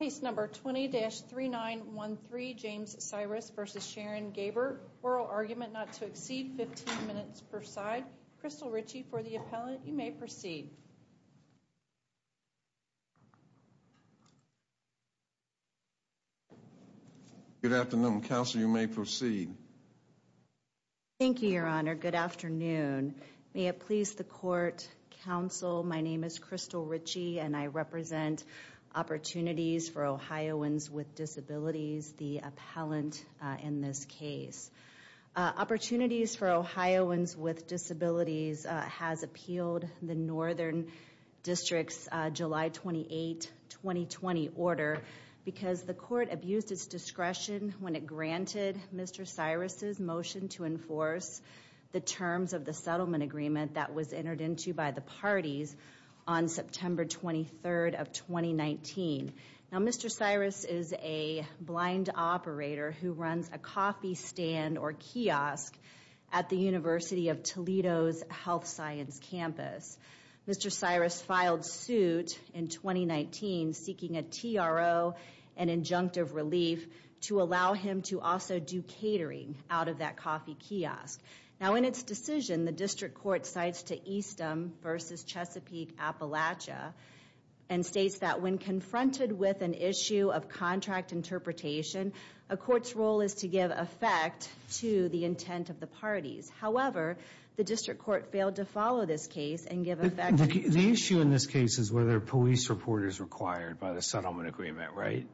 Case number 20-3913 James Cyrus v. Sharon Gaber. Oral argument not to exceed 15 minutes per side. Crystal Ritchie for the appellant. You may proceed. Good afternoon counsel. You may proceed. Thank you, Your Honor. Good afternoon. May it please the court, counsel, my name is Crystal Ritchie and I represent Opportunities for Ohioans with Disabilities, the appellant in this case. Opportunities for Ohioans with Disabilities has appealed the Northern District's July 28, 2020 order because the court abused its discretion when it granted Mr. Cyrus' motion to enforce the terms of the settlement agreement that was entered into by the parties on September 23rd of 2019. Now Mr. Cyrus is a blind operator who runs a coffee stand or kiosk at the University of Toledo's health science campus. Mr. Cyrus filed suit in 2019 seeking a TRO and injunctive relief to allow him to also do catering out of that coffee kiosk. Now in its decision, the district court cites to Eastham v. Chesapeake Appalachia and states that when confronted with an issue of contract interpretation, a court's role is to give effect to the intent of the parties. However, the district court failed to follow this case and give effect. The issue in this case is whether police support is required by the settlement agreement, right?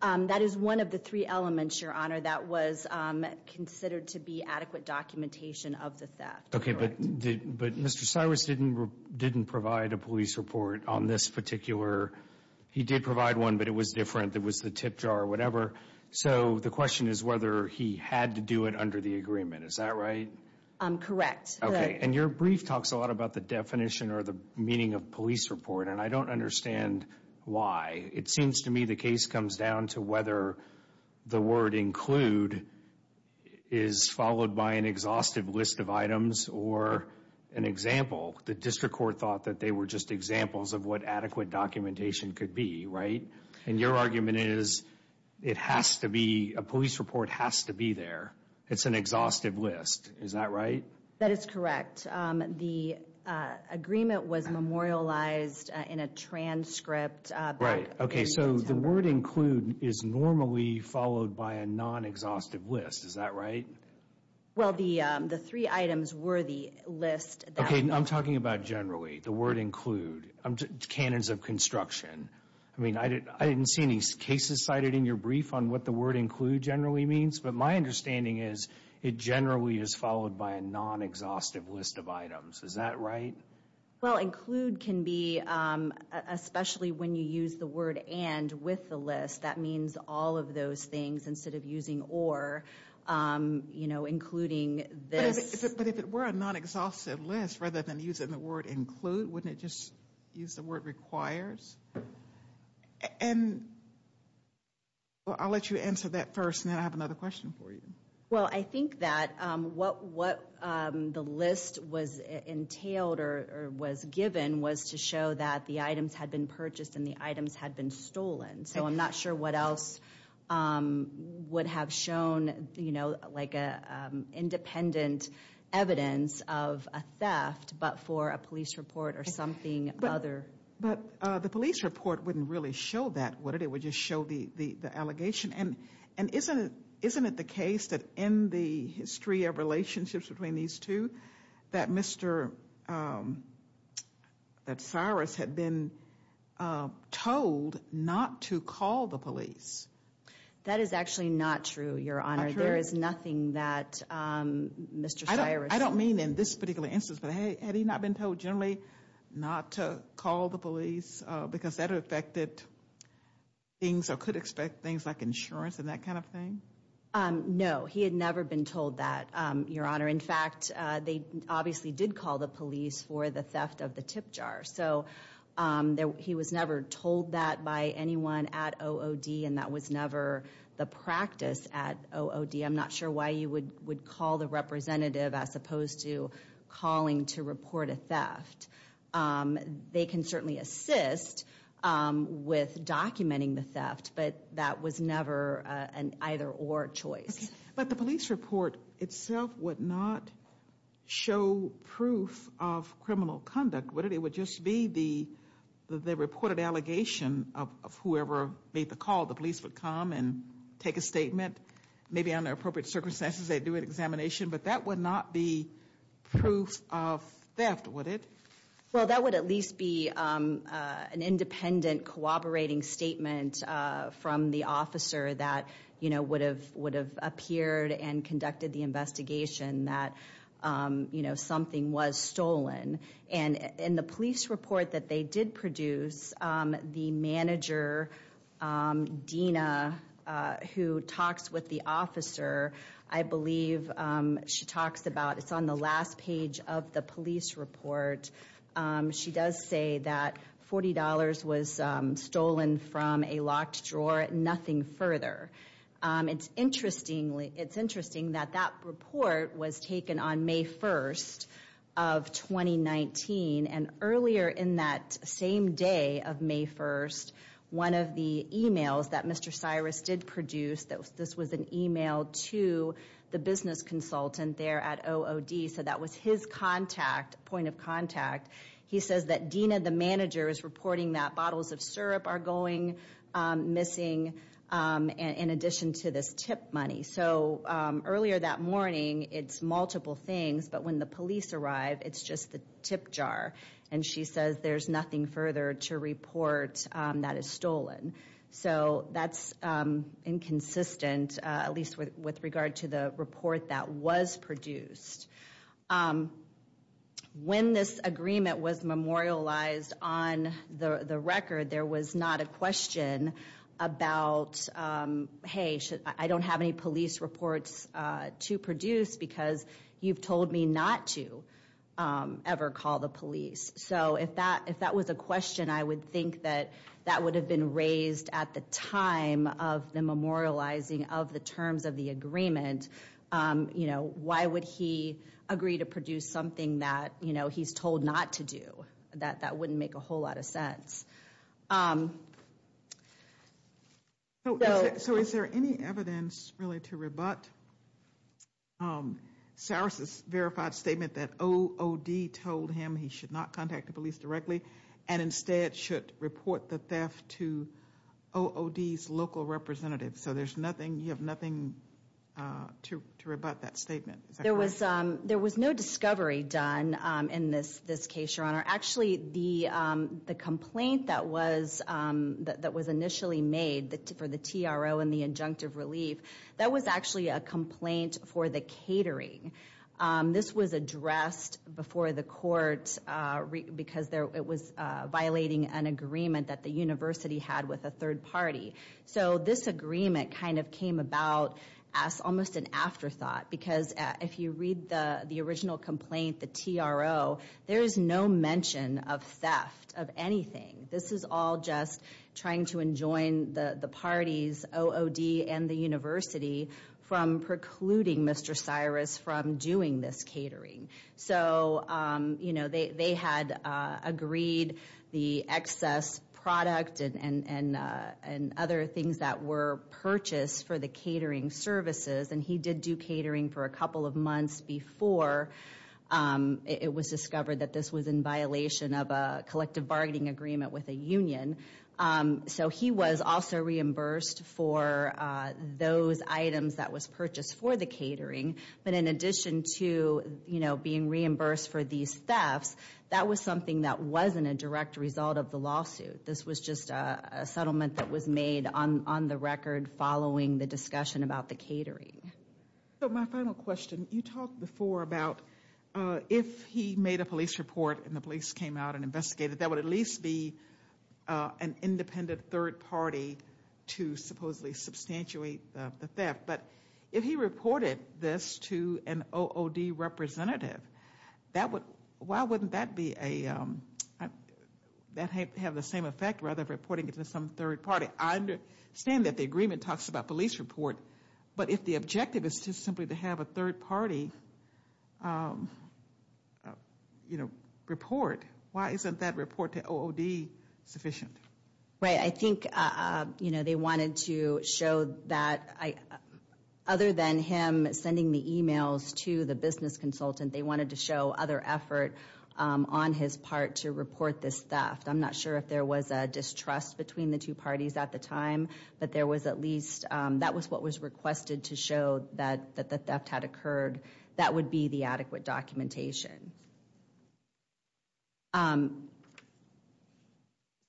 That is one of the three elements, Your Honor, that was considered to be adequate documentation of the theft. Okay, but Mr. Cyrus didn't provide a police report on this particular. He did provide one, but it was different. It was the tip jar or whatever. So the question is whether he had to do it under the agreement. Is that right? Correct. Okay, and your brief talks a lot about the definition or the meaning of police report, and I don't understand why. It seems to me the case comes down to whether the word include is followed by an exhaustive list of items or an example. The district court thought that they were just examples of what adequate documentation could be, right? And your argument is it has to be a police report has to be there. It's an exhaustive list. Is that right? That is correct. The agreement was memorialized in a transcript. Right. Okay, so the word include is normally followed by a non-exhaustive list. Is that right? Well, the three items were the list. Okay, I'm talking about generally, the word include, cannons of construction. I mean, I didn't see any cases cited in your brief on what the word include generally means, but my understanding is it generally is followed by a non-exhaustive list of items. Is that right? Well, include can be, especially when you use the word and with the list, that means all of those things instead of using or, you know, including this. But if it were a non-exhaustive list rather than using the word include, wouldn't it just use the word requires? And I'll let you answer that first and then I'll have another question for you. Well, I think that what the list was entailed or was given was to show that the items had been purchased and the items had been stolen. So I'm not sure what else would have shown, you know, like independent evidence of a theft, but for a police report or something other. But the police report wouldn't really show that, would it? It would just show the allegation. And isn't it the case that in the history of relationships between these two that Mr. Cyrus had been told not to call the police? That is actually not true, Your Honor. There is nothing that Mr. Cyrus. I don't mean in this particular instance, but had he not been told generally not to call the police because that affected things or could expect things like insurance and that kind of thing? No, he had never been told that, Your Honor. In fact, they obviously did call the police for the theft of the tip jar. So he was never told that by anyone at OOD and that was never the practice at OOD. I'm not sure why you would call the representative as opposed to calling to report a theft. They can certainly assist with documenting the theft, but that was never an either or choice. But the police report itself would not show proof of criminal conduct, would it? It would just be the reported allegation of whoever made the call. The police would come and take a statement. Maybe under appropriate circumstances, they'd do an examination. But that would not be proof of theft, would it? Well, that would at least be an independent, cooperating statement from the officer that would have appeared and conducted the investigation that something was stolen. And in the police report that they did produce, the manager, Dina, who talks with the officer, I believe she talks about it's on the last page of the police report. She does say that $40 was stolen from a locked drawer, nothing further. It's interesting that that report was taken on May 1st of 2019. And earlier in that same day of May 1st, one of the emails that Mr. Cyrus did produce, this was an email to the business consultant there at OOD, so that was his point of contact. He says that Dina, the manager, is reporting that bottles of syrup are going missing in addition to this tip money. So earlier that morning, it's multiple things, but when the police arrived, it's just the tip jar. And she says there's nothing further to report that is stolen. So that's inconsistent, at least with regard to the report that was produced. When this agreement was memorialized on the record, there was not a question about, hey, I don't have any police reports to produce because you've told me not to ever call the police. So if that was a question, I would think that that would have been raised at the time of the memorializing of the terms of the agreement. Why would he agree to produce something that he's told not to do? That wouldn't make a whole lot of sense. So is there any evidence really to rebut Cyrus's verified statement that OOD told him he should not contact the police directly and instead should report the theft to OOD's local representative? So you have nothing to rebut that statement? There was no discovery done in this case, Your Honor. Actually, the complaint that was initially made for the TRO and the injunctive relief, that was actually a complaint for the catering. This was addressed before the court because it was violating an agreement that the university had with a third party. So this agreement kind of came about as almost an afterthought because if you read the original complaint, the TRO, there is no mention of theft of anything. This is all just trying to enjoin the parties, OOD and the university, from precluding Mr. Cyrus from doing this catering. So they had agreed the excess product and other things that were purchased for the catering services. And he did do catering for a couple of months before it was discovered that this was in violation of a collective bargaining agreement with a union. So he was also reimbursed for those items that was purchased for the catering. But in addition to, you know, being reimbursed for these thefts, that was something that wasn't a direct result of the lawsuit. This was just a settlement that was made on the record following the discussion about the catering. So my final question, you talked before about if he made a police report and the police came out and investigated, that would at least be an independent third party to supposedly substantiate the theft. But if he reported this to an OOD representative, that would, why wouldn't that be a, that have the same effect rather than reporting it to some third party? I understand that the agreement talks about police report. But if the objective is just simply to have a third party, you know, report, why isn't that report to OOD sufficient? Right, I think, you know, they wanted to show that other than him sending the emails to the business consultant, they wanted to show other effort on his part to report this theft. I'm not sure if there was a distrust between the two parties at the time, but there was at least, that was what was requested to show that the theft had occurred. That would be the adequate documentation.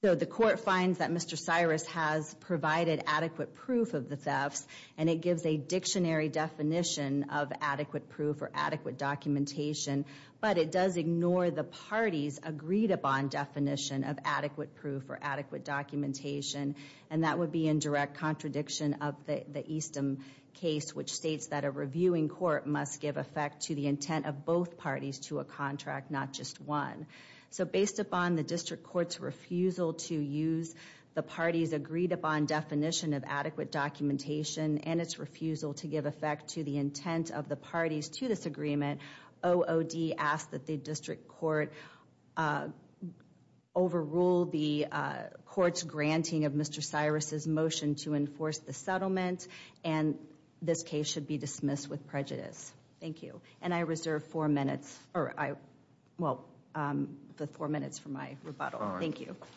So the court finds that Mr. Cyrus has provided adequate proof of the thefts, and it gives a dictionary definition of adequate proof or adequate documentation. But it does ignore the parties agreed upon definition of adequate proof or adequate documentation. And that would be in direct contradiction of the Easton case, which states that a reviewing court must give effect to the intent of both parties to a contract, not just one. So based upon the district court's refusal to use the parties agreed upon definition of adequate documentation and its refusal to give effect to the intent of the parties to this agreement, OOD asked that the district court overrule the court's granting of Mr. Cyrus's motion to enforce the settlement. And this case should be dismissed with prejudice. Thank you. And I reserve four minutes for my rebuttal. Thank you. Thank you. Thank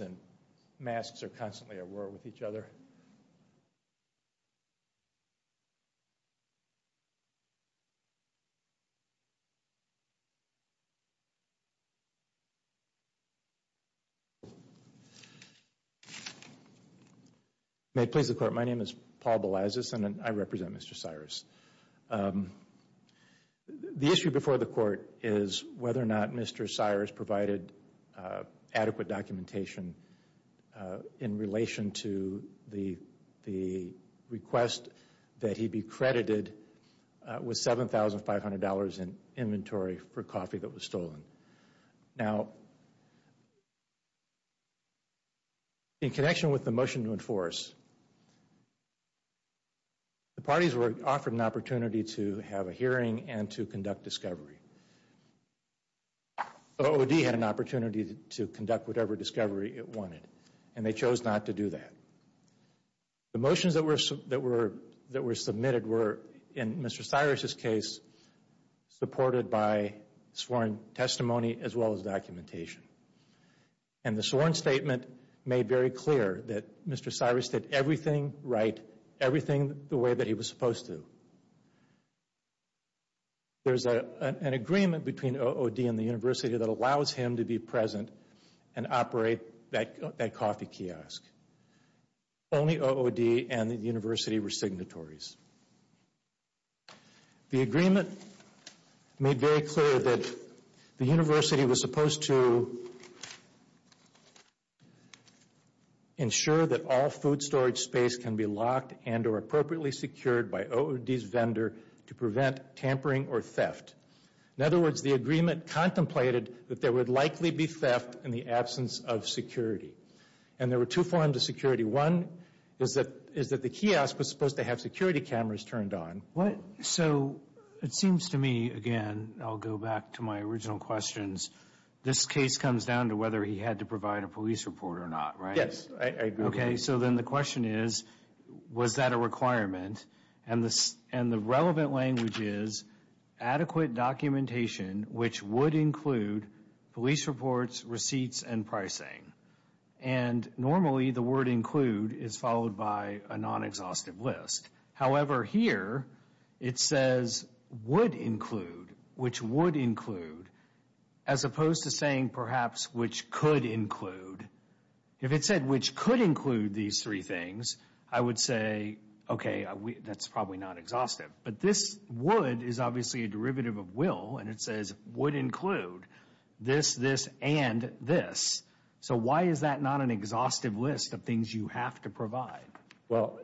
you. May it please the court, my name is Paul Belazis and I represent Mr. Cyrus. The issue before the court is whether or not Mr. Cyrus provided adequate documentation in relation to the request that he be credited with $7,500 in inventory for coffee that was stolen. Now, in connection with the motion to enforce, the parties were offered an opportunity to have a hearing and to conduct discovery. OOD had an opportunity to conduct whatever discovery it wanted and they chose not to do that. The motions that were submitted were, in Mr. Cyrus's case, supported by sworn testimony as well as documentation. And the sworn statement made very clear that Mr. Cyrus did everything right, everything the way that he was supposed to. There's an agreement between OOD and the university that allows him to be present and operate that coffee kiosk. Only OOD and the university were signatories. The agreement made very clear that the university was supposed to ensure that all food storage space can be locked and or appropriately secured by OOD's vendor to prevent tampering or theft. In other words, the agreement contemplated that there would likely be theft in the absence of security. And there were two forms of security. One is that the kiosk was supposed to have security cameras turned on. So it seems to me, again, I'll go back to my original questions, this case comes down to whether he had to provide a police report or not, right? Yes, I agree. Okay, so then the question is, was that a requirement? And the relevant language is adequate documentation, which would include police reports, receipts, and pricing. And normally the word include is followed by a non-exhaustive list. However, here it says would include, which would include, as opposed to saying perhaps which could include. If it said which could include these three things, I would say, okay, that's probably not exhaustive. But this would is obviously a derivative of will, and it says would include this, this, and this. So why is that not an exhaustive list of things you have to provide? Well,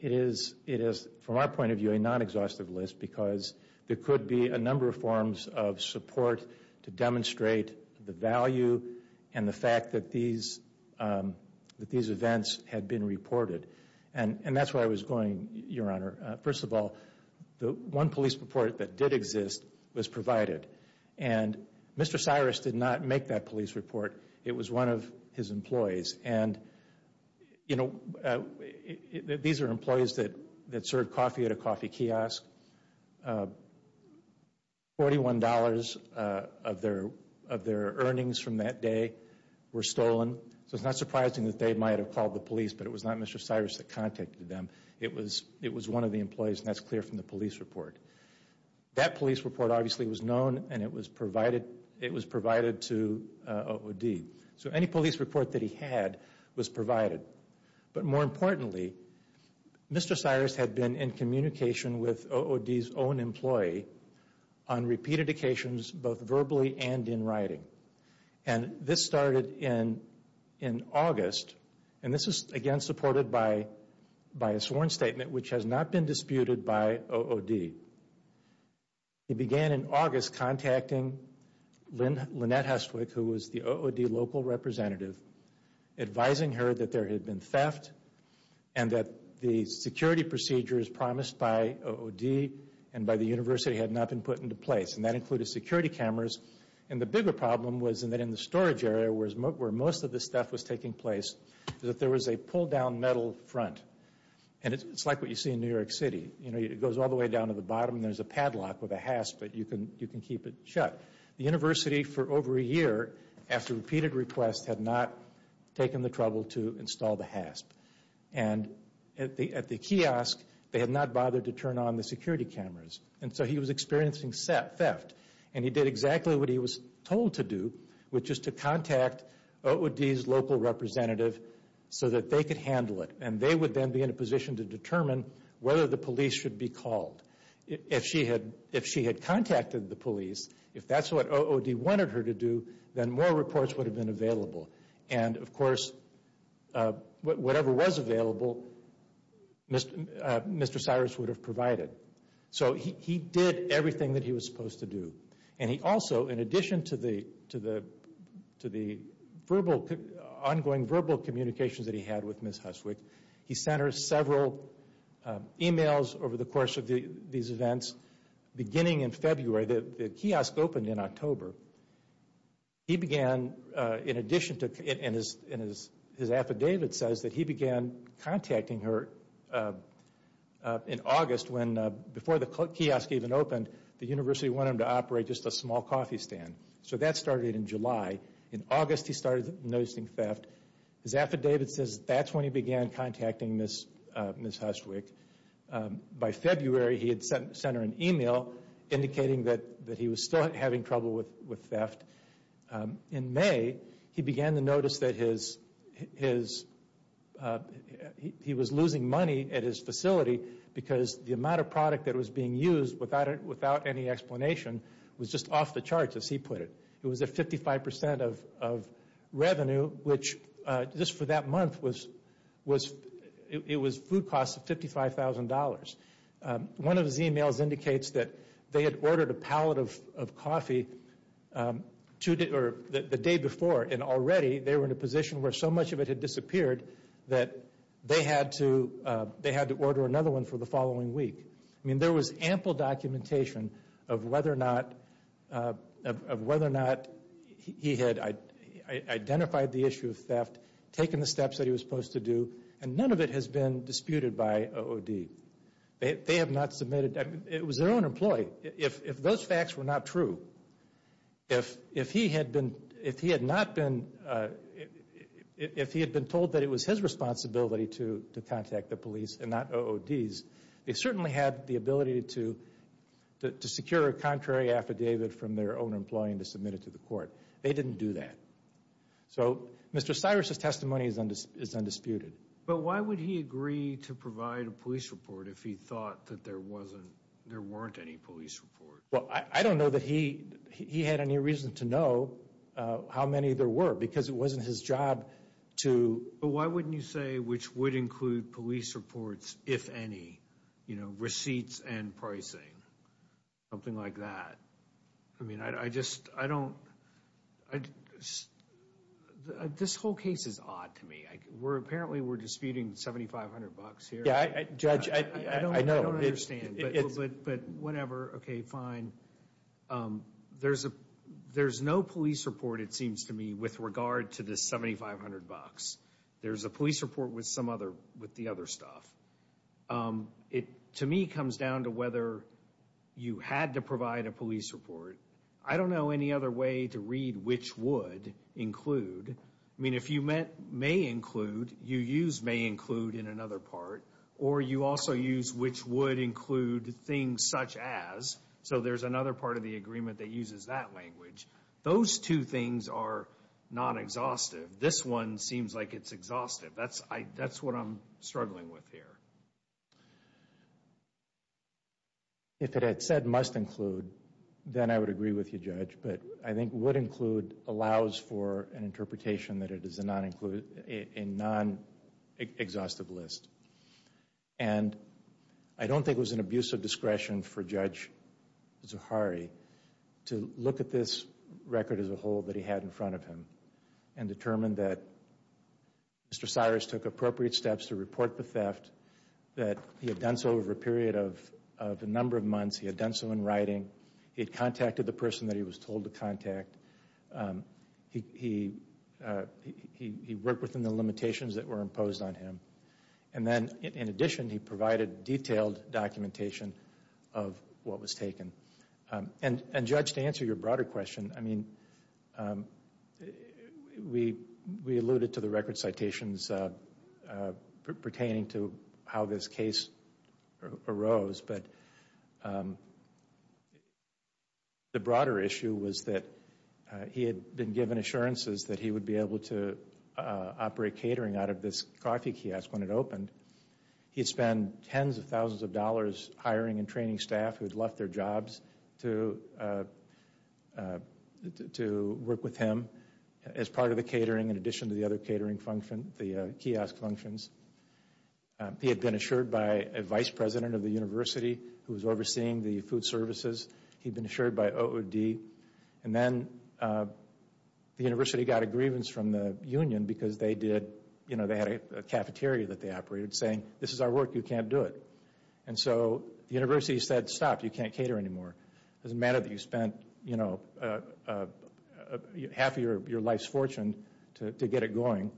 it is, from our point of view, a non-exhaustive list because there could be a number of forms of support to demonstrate the value and the fact that these events had been reported. And that's where I was going, Your Honor. First of all, the one police report that did exist was provided. And Mr. Cyrus did not make that police report. It was one of his employees. And, you know, these are employees that served coffee at a coffee kiosk. Forty-one dollars of their earnings from that day were stolen. So it's not surprising that they might have called the police, but it was not Mr. Cyrus that contacted them. It was one of the employees, and that's clear from the police report. That police report obviously was known, and it was provided to OOD. So any police report that he had was provided. But more importantly, Mr. Cyrus had been in communication with OOD's own employee on repeated occasions, both verbally and in writing. And this started in August, and this is, again, supported by a sworn statement, which has not been disputed by OOD. He began in August contacting Lynette Hestwick, who was the OOD local representative, advising her that there had been theft and that the security procedures promised by OOD and by the university had not been put into place. And that included security cameras. And the bigger problem was that in the storage area, where most of this stuff was taking place, that there was a pull-down metal front. And it's like what you see in New York City. You know, it goes all the way down to the bottom. There's a padlock with a hasp, but you can keep it shut. The university, for over a year, after repeated requests, had not taken the trouble to install the hasp. And at the kiosk, they had not bothered to turn on the security cameras. And so he was experiencing theft. And he did exactly what he was told to do, which is to contact OOD's local representative so that they could handle it. And they would then be in a position to determine whether the police should be called. If she had contacted the police, if that's what OOD wanted her to do, then more reports would have been available. And, of course, whatever was available, Mr. Cyrus would have provided. So he did everything that he was supposed to do. And he also, in addition to the verbal, ongoing verbal communications that he had with Ms. Huswick, he sent her several emails over the course of these events. Beginning in February, the kiosk opened in October. He began, in addition to, and his affidavit says that he began contacting her in August, when before the kiosk even opened, the university wanted him to operate just a small coffee stand. So that started in July. In August, he started noticing theft. His affidavit says that's when he began contacting Ms. Huswick. By February, he had sent her an email indicating that he was still having trouble with theft. In May, he began to notice that he was losing money at his facility because the amount of product that was being used, without any explanation, was just off the charts, as he put it. It was at 55% of revenue, which just for that month, it was food costs of $55,000. One of his emails indicates that they had ordered a pallet of coffee the day before, and already they were in a position where so much of it had disappeared that they had to order another one for the following week. I mean, there was ample documentation of whether or not he had identified the issue of theft, taken the steps that he was supposed to do, and none of it has been disputed by OOD. They have not submitted. It was their own employee. If those facts were not true, if he had been told that it was his responsibility to contact the police and not OOD's, they certainly had the ability to secure a contrary affidavit from their own employee and to submit it to the court. They didn't do that. So Mr. Cyrus's testimony is undisputed. But why would he agree to provide a police report if he thought that there weren't any police reports? Well, I don't know that he had any reason to know how many there were, because it wasn't his job to... But why wouldn't you say, which would include police reports, if any, you know, receipts and pricing, something like that? I mean, I just don't... This whole case is odd to me. Apparently we're disputing $7,500 here. Yeah, Judge, I know. I don't understand, but whatever. Okay, fine. There's no police report, it seems to me, with regard to this $7,500. There's a police report with the other stuff. It, to me, comes down to whether you had to provide a police report. I don't know any other way to read which would include. I mean, if you meant may include, you use may include in another part. Or you also use which would include things such as. So there's another part of the agreement that uses that language. Those two things are not exhaustive. This one seems like it's exhaustive. That's what I'm struggling with here. If it had said must include, then I would agree with you, Judge. But I think would include allows for an interpretation that it is a non-exhaustive list. And I don't think it was an abuse of discretion for Judge Zuhari to look at this record as a whole that he had in front of him and determined that Mr. Cyrus took appropriate steps to report the theft, that he had done so over a period of a number of months. He had done so in writing. He had contacted the person that he was told to contact. He worked within the limitations that were imposed on him. And then, in addition, he provided detailed documentation of what was taken. And, Judge, to answer your broader question, I mean, we alluded to the record citations pertaining to how this case arose. But the broader issue was that he had been given assurances that he would be able to operate catering out of this coffee kiosk when it opened. He had spent tens of thousands of dollars hiring and training staff who had left their jobs to work with him as part of the catering, in addition to the other catering function, the kiosk functions. He had been assured by a vice president of the university who was overseeing the food services. He had been assured by OOD. And then the university got a grievance from the union because they did, you know, they had a cafeteria that they operated saying, this is our work, you can't do it. And so the university said, stop, you can't cater anymore. It doesn't matter that you spent, you know, half of your life's fortune to get it going.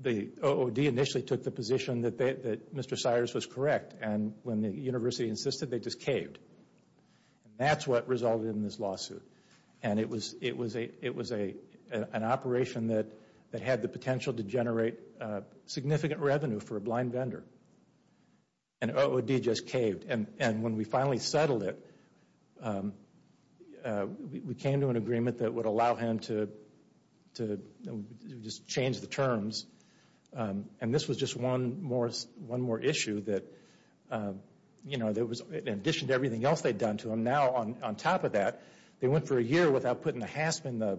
The OOD initially took the position that Mr. Cyrus was correct. And when the university insisted, they just caved. And that's what resulted in this lawsuit. And it was an operation that had the potential to generate significant revenue for a blind vendor. And OOD just caved. And when we finally settled it, we came to an agreement that would allow him to just change the terms. And this was just one more issue that, you know, in addition to everything else they'd done to him, now on top of that, they went for a year without putting a hasp in the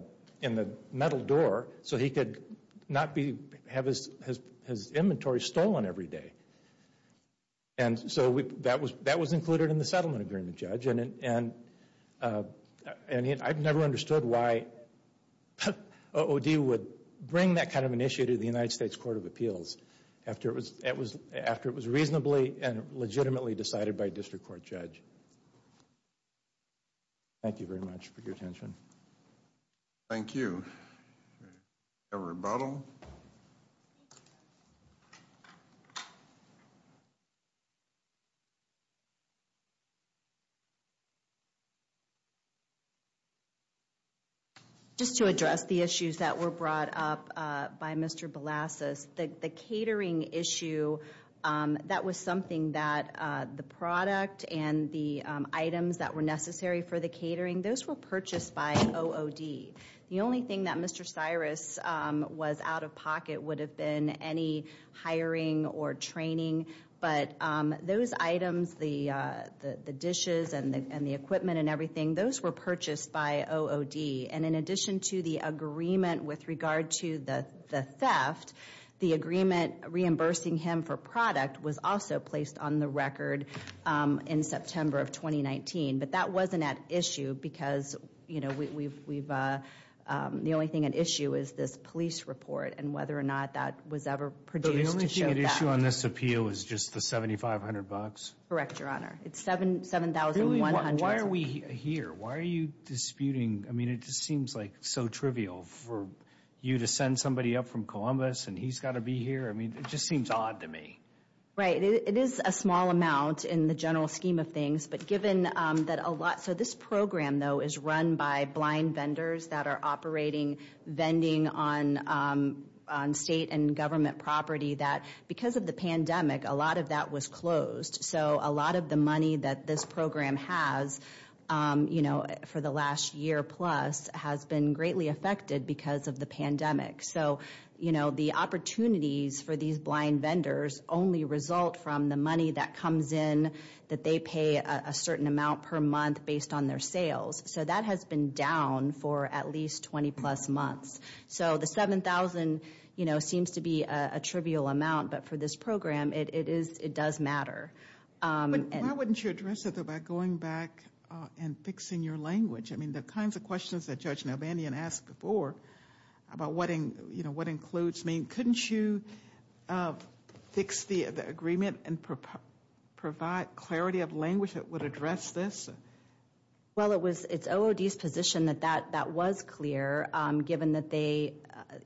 metal door so he could not have his inventory stolen every day. And so that was included in the settlement agreement, Judge. And I've never understood why OOD would bring that kind of an issue to the United States Court of Appeals after it was reasonably and legitimately decided by a district court judge. Thank you very much for your attention. Thank you. A rebuttal. Just to address the issues that were brought up by Mr. Balassas, the catering issue, that was something that the product and the items that were necessary for the catering, those were purchased by OOD. The only thing that Mr. Cyrus was out of pocket would have been any hiring or training. But those items, the dishes and the equipment and everything, those were purchased by OOD. And in addition to the agreement with regard to the theft, the agreement reimbursing him for product was also placed on the record in September of 2019. But that wasn't at issue because the only thing at issue is this police report and whether or not that was ever produced to show that. So the only thing at issue on this appeal is just the $7,500? Correct, Your Honor. It's $7,100. Why are we here? Why are you disputing? I mean, it just seems like so trivial for you to send somebody up from Columbus and he's got to be here. I mean, it just seems odd to me. Right. It is a small amount in the general scheme of things. So this program, though, is run by blind vendors that are operating vending on state and government property that because of the pandemic, a lot of that was closed. So a lot of the money that this program has for the last year plus has been greatly affected because of the pandemic. So, you know, the opportunities for these blind vendors only result from the money that comes in, that they pay a certain amount per month based on their sales. So that has been down for at least 20 plus months. So the $7,000, you know, seems to be a trivial amount. But for this program, it does matter. Why wouldn't you address it by going back and fixing your language? I mean, the kinds of questions that Judge Nalbandian asked before about what, you know, what includes. I mean, couldn't you fix the agreement and provide clarity of language that would address this? Well, it's OOD's position that that was clear, given that they,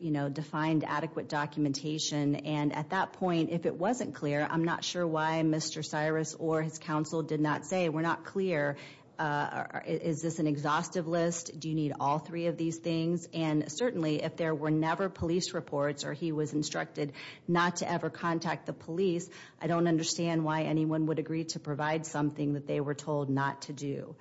you know, defined adequate documentation. And at that point, if it wasn't clear, I'm not sure why Mr. Cyrus or his counsel did not say, we're not clear, is this an exhaustive list? Do you need all three of these things? And certainly, if there were never police reports or he was instructed not to ever contact the police, I don't understand why anyone would agree to provide something that they were told not to do.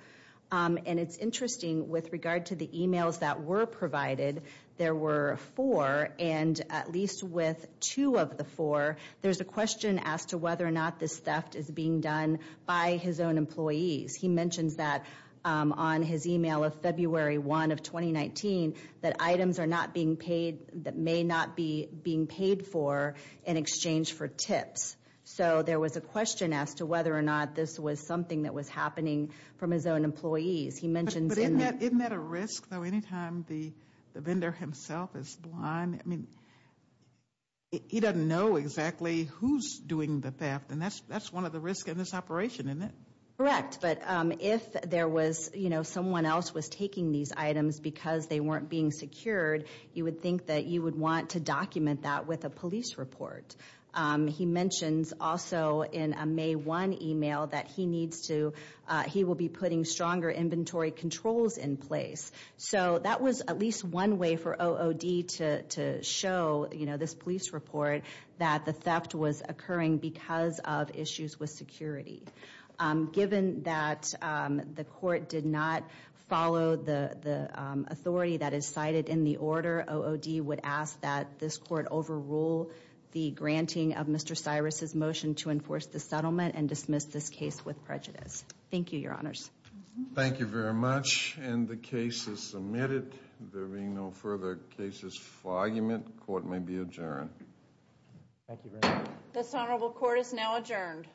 And it's interesting, with regard to the emails that were provided, there were four. And at least with two of the four, there's a question as to whether or not this theft is being done by his own employees. He mentions that on his email of February 1 of 2019, that items are not being paid, that may not be being paid for in exchange for tips. So there was a question as to whether or not this was something that was happening from his own employees. But isn't that a risk, though, anytime the vendor himself is blind? I mean, he doesn't know exactly who's doing the theft, and that's one of the risks in this operation, isn't it? Correct. But if there was, you know, someone else was taking these items because they weren't being secured, you would think that you would want to document that with a police report. He mentions also in a May 1 email that he needs to, he will be putting stronger inventory controls in place. So that was at least one way for OOD to show, you know, this police report that the theft was occurring because of issues with security. Given that the court did not follow the authority that is cited in the order, OOD would ask that this court overrule the granting of Mr. Cyrus' motion to enforce the settlement and dismiss this case with prejudice. Thank you, Your Honors. Thank you very much. And the case is submitted. There being no further cases for argument, court may be adjourned. Thank you very much. This honorable court is now adjourned.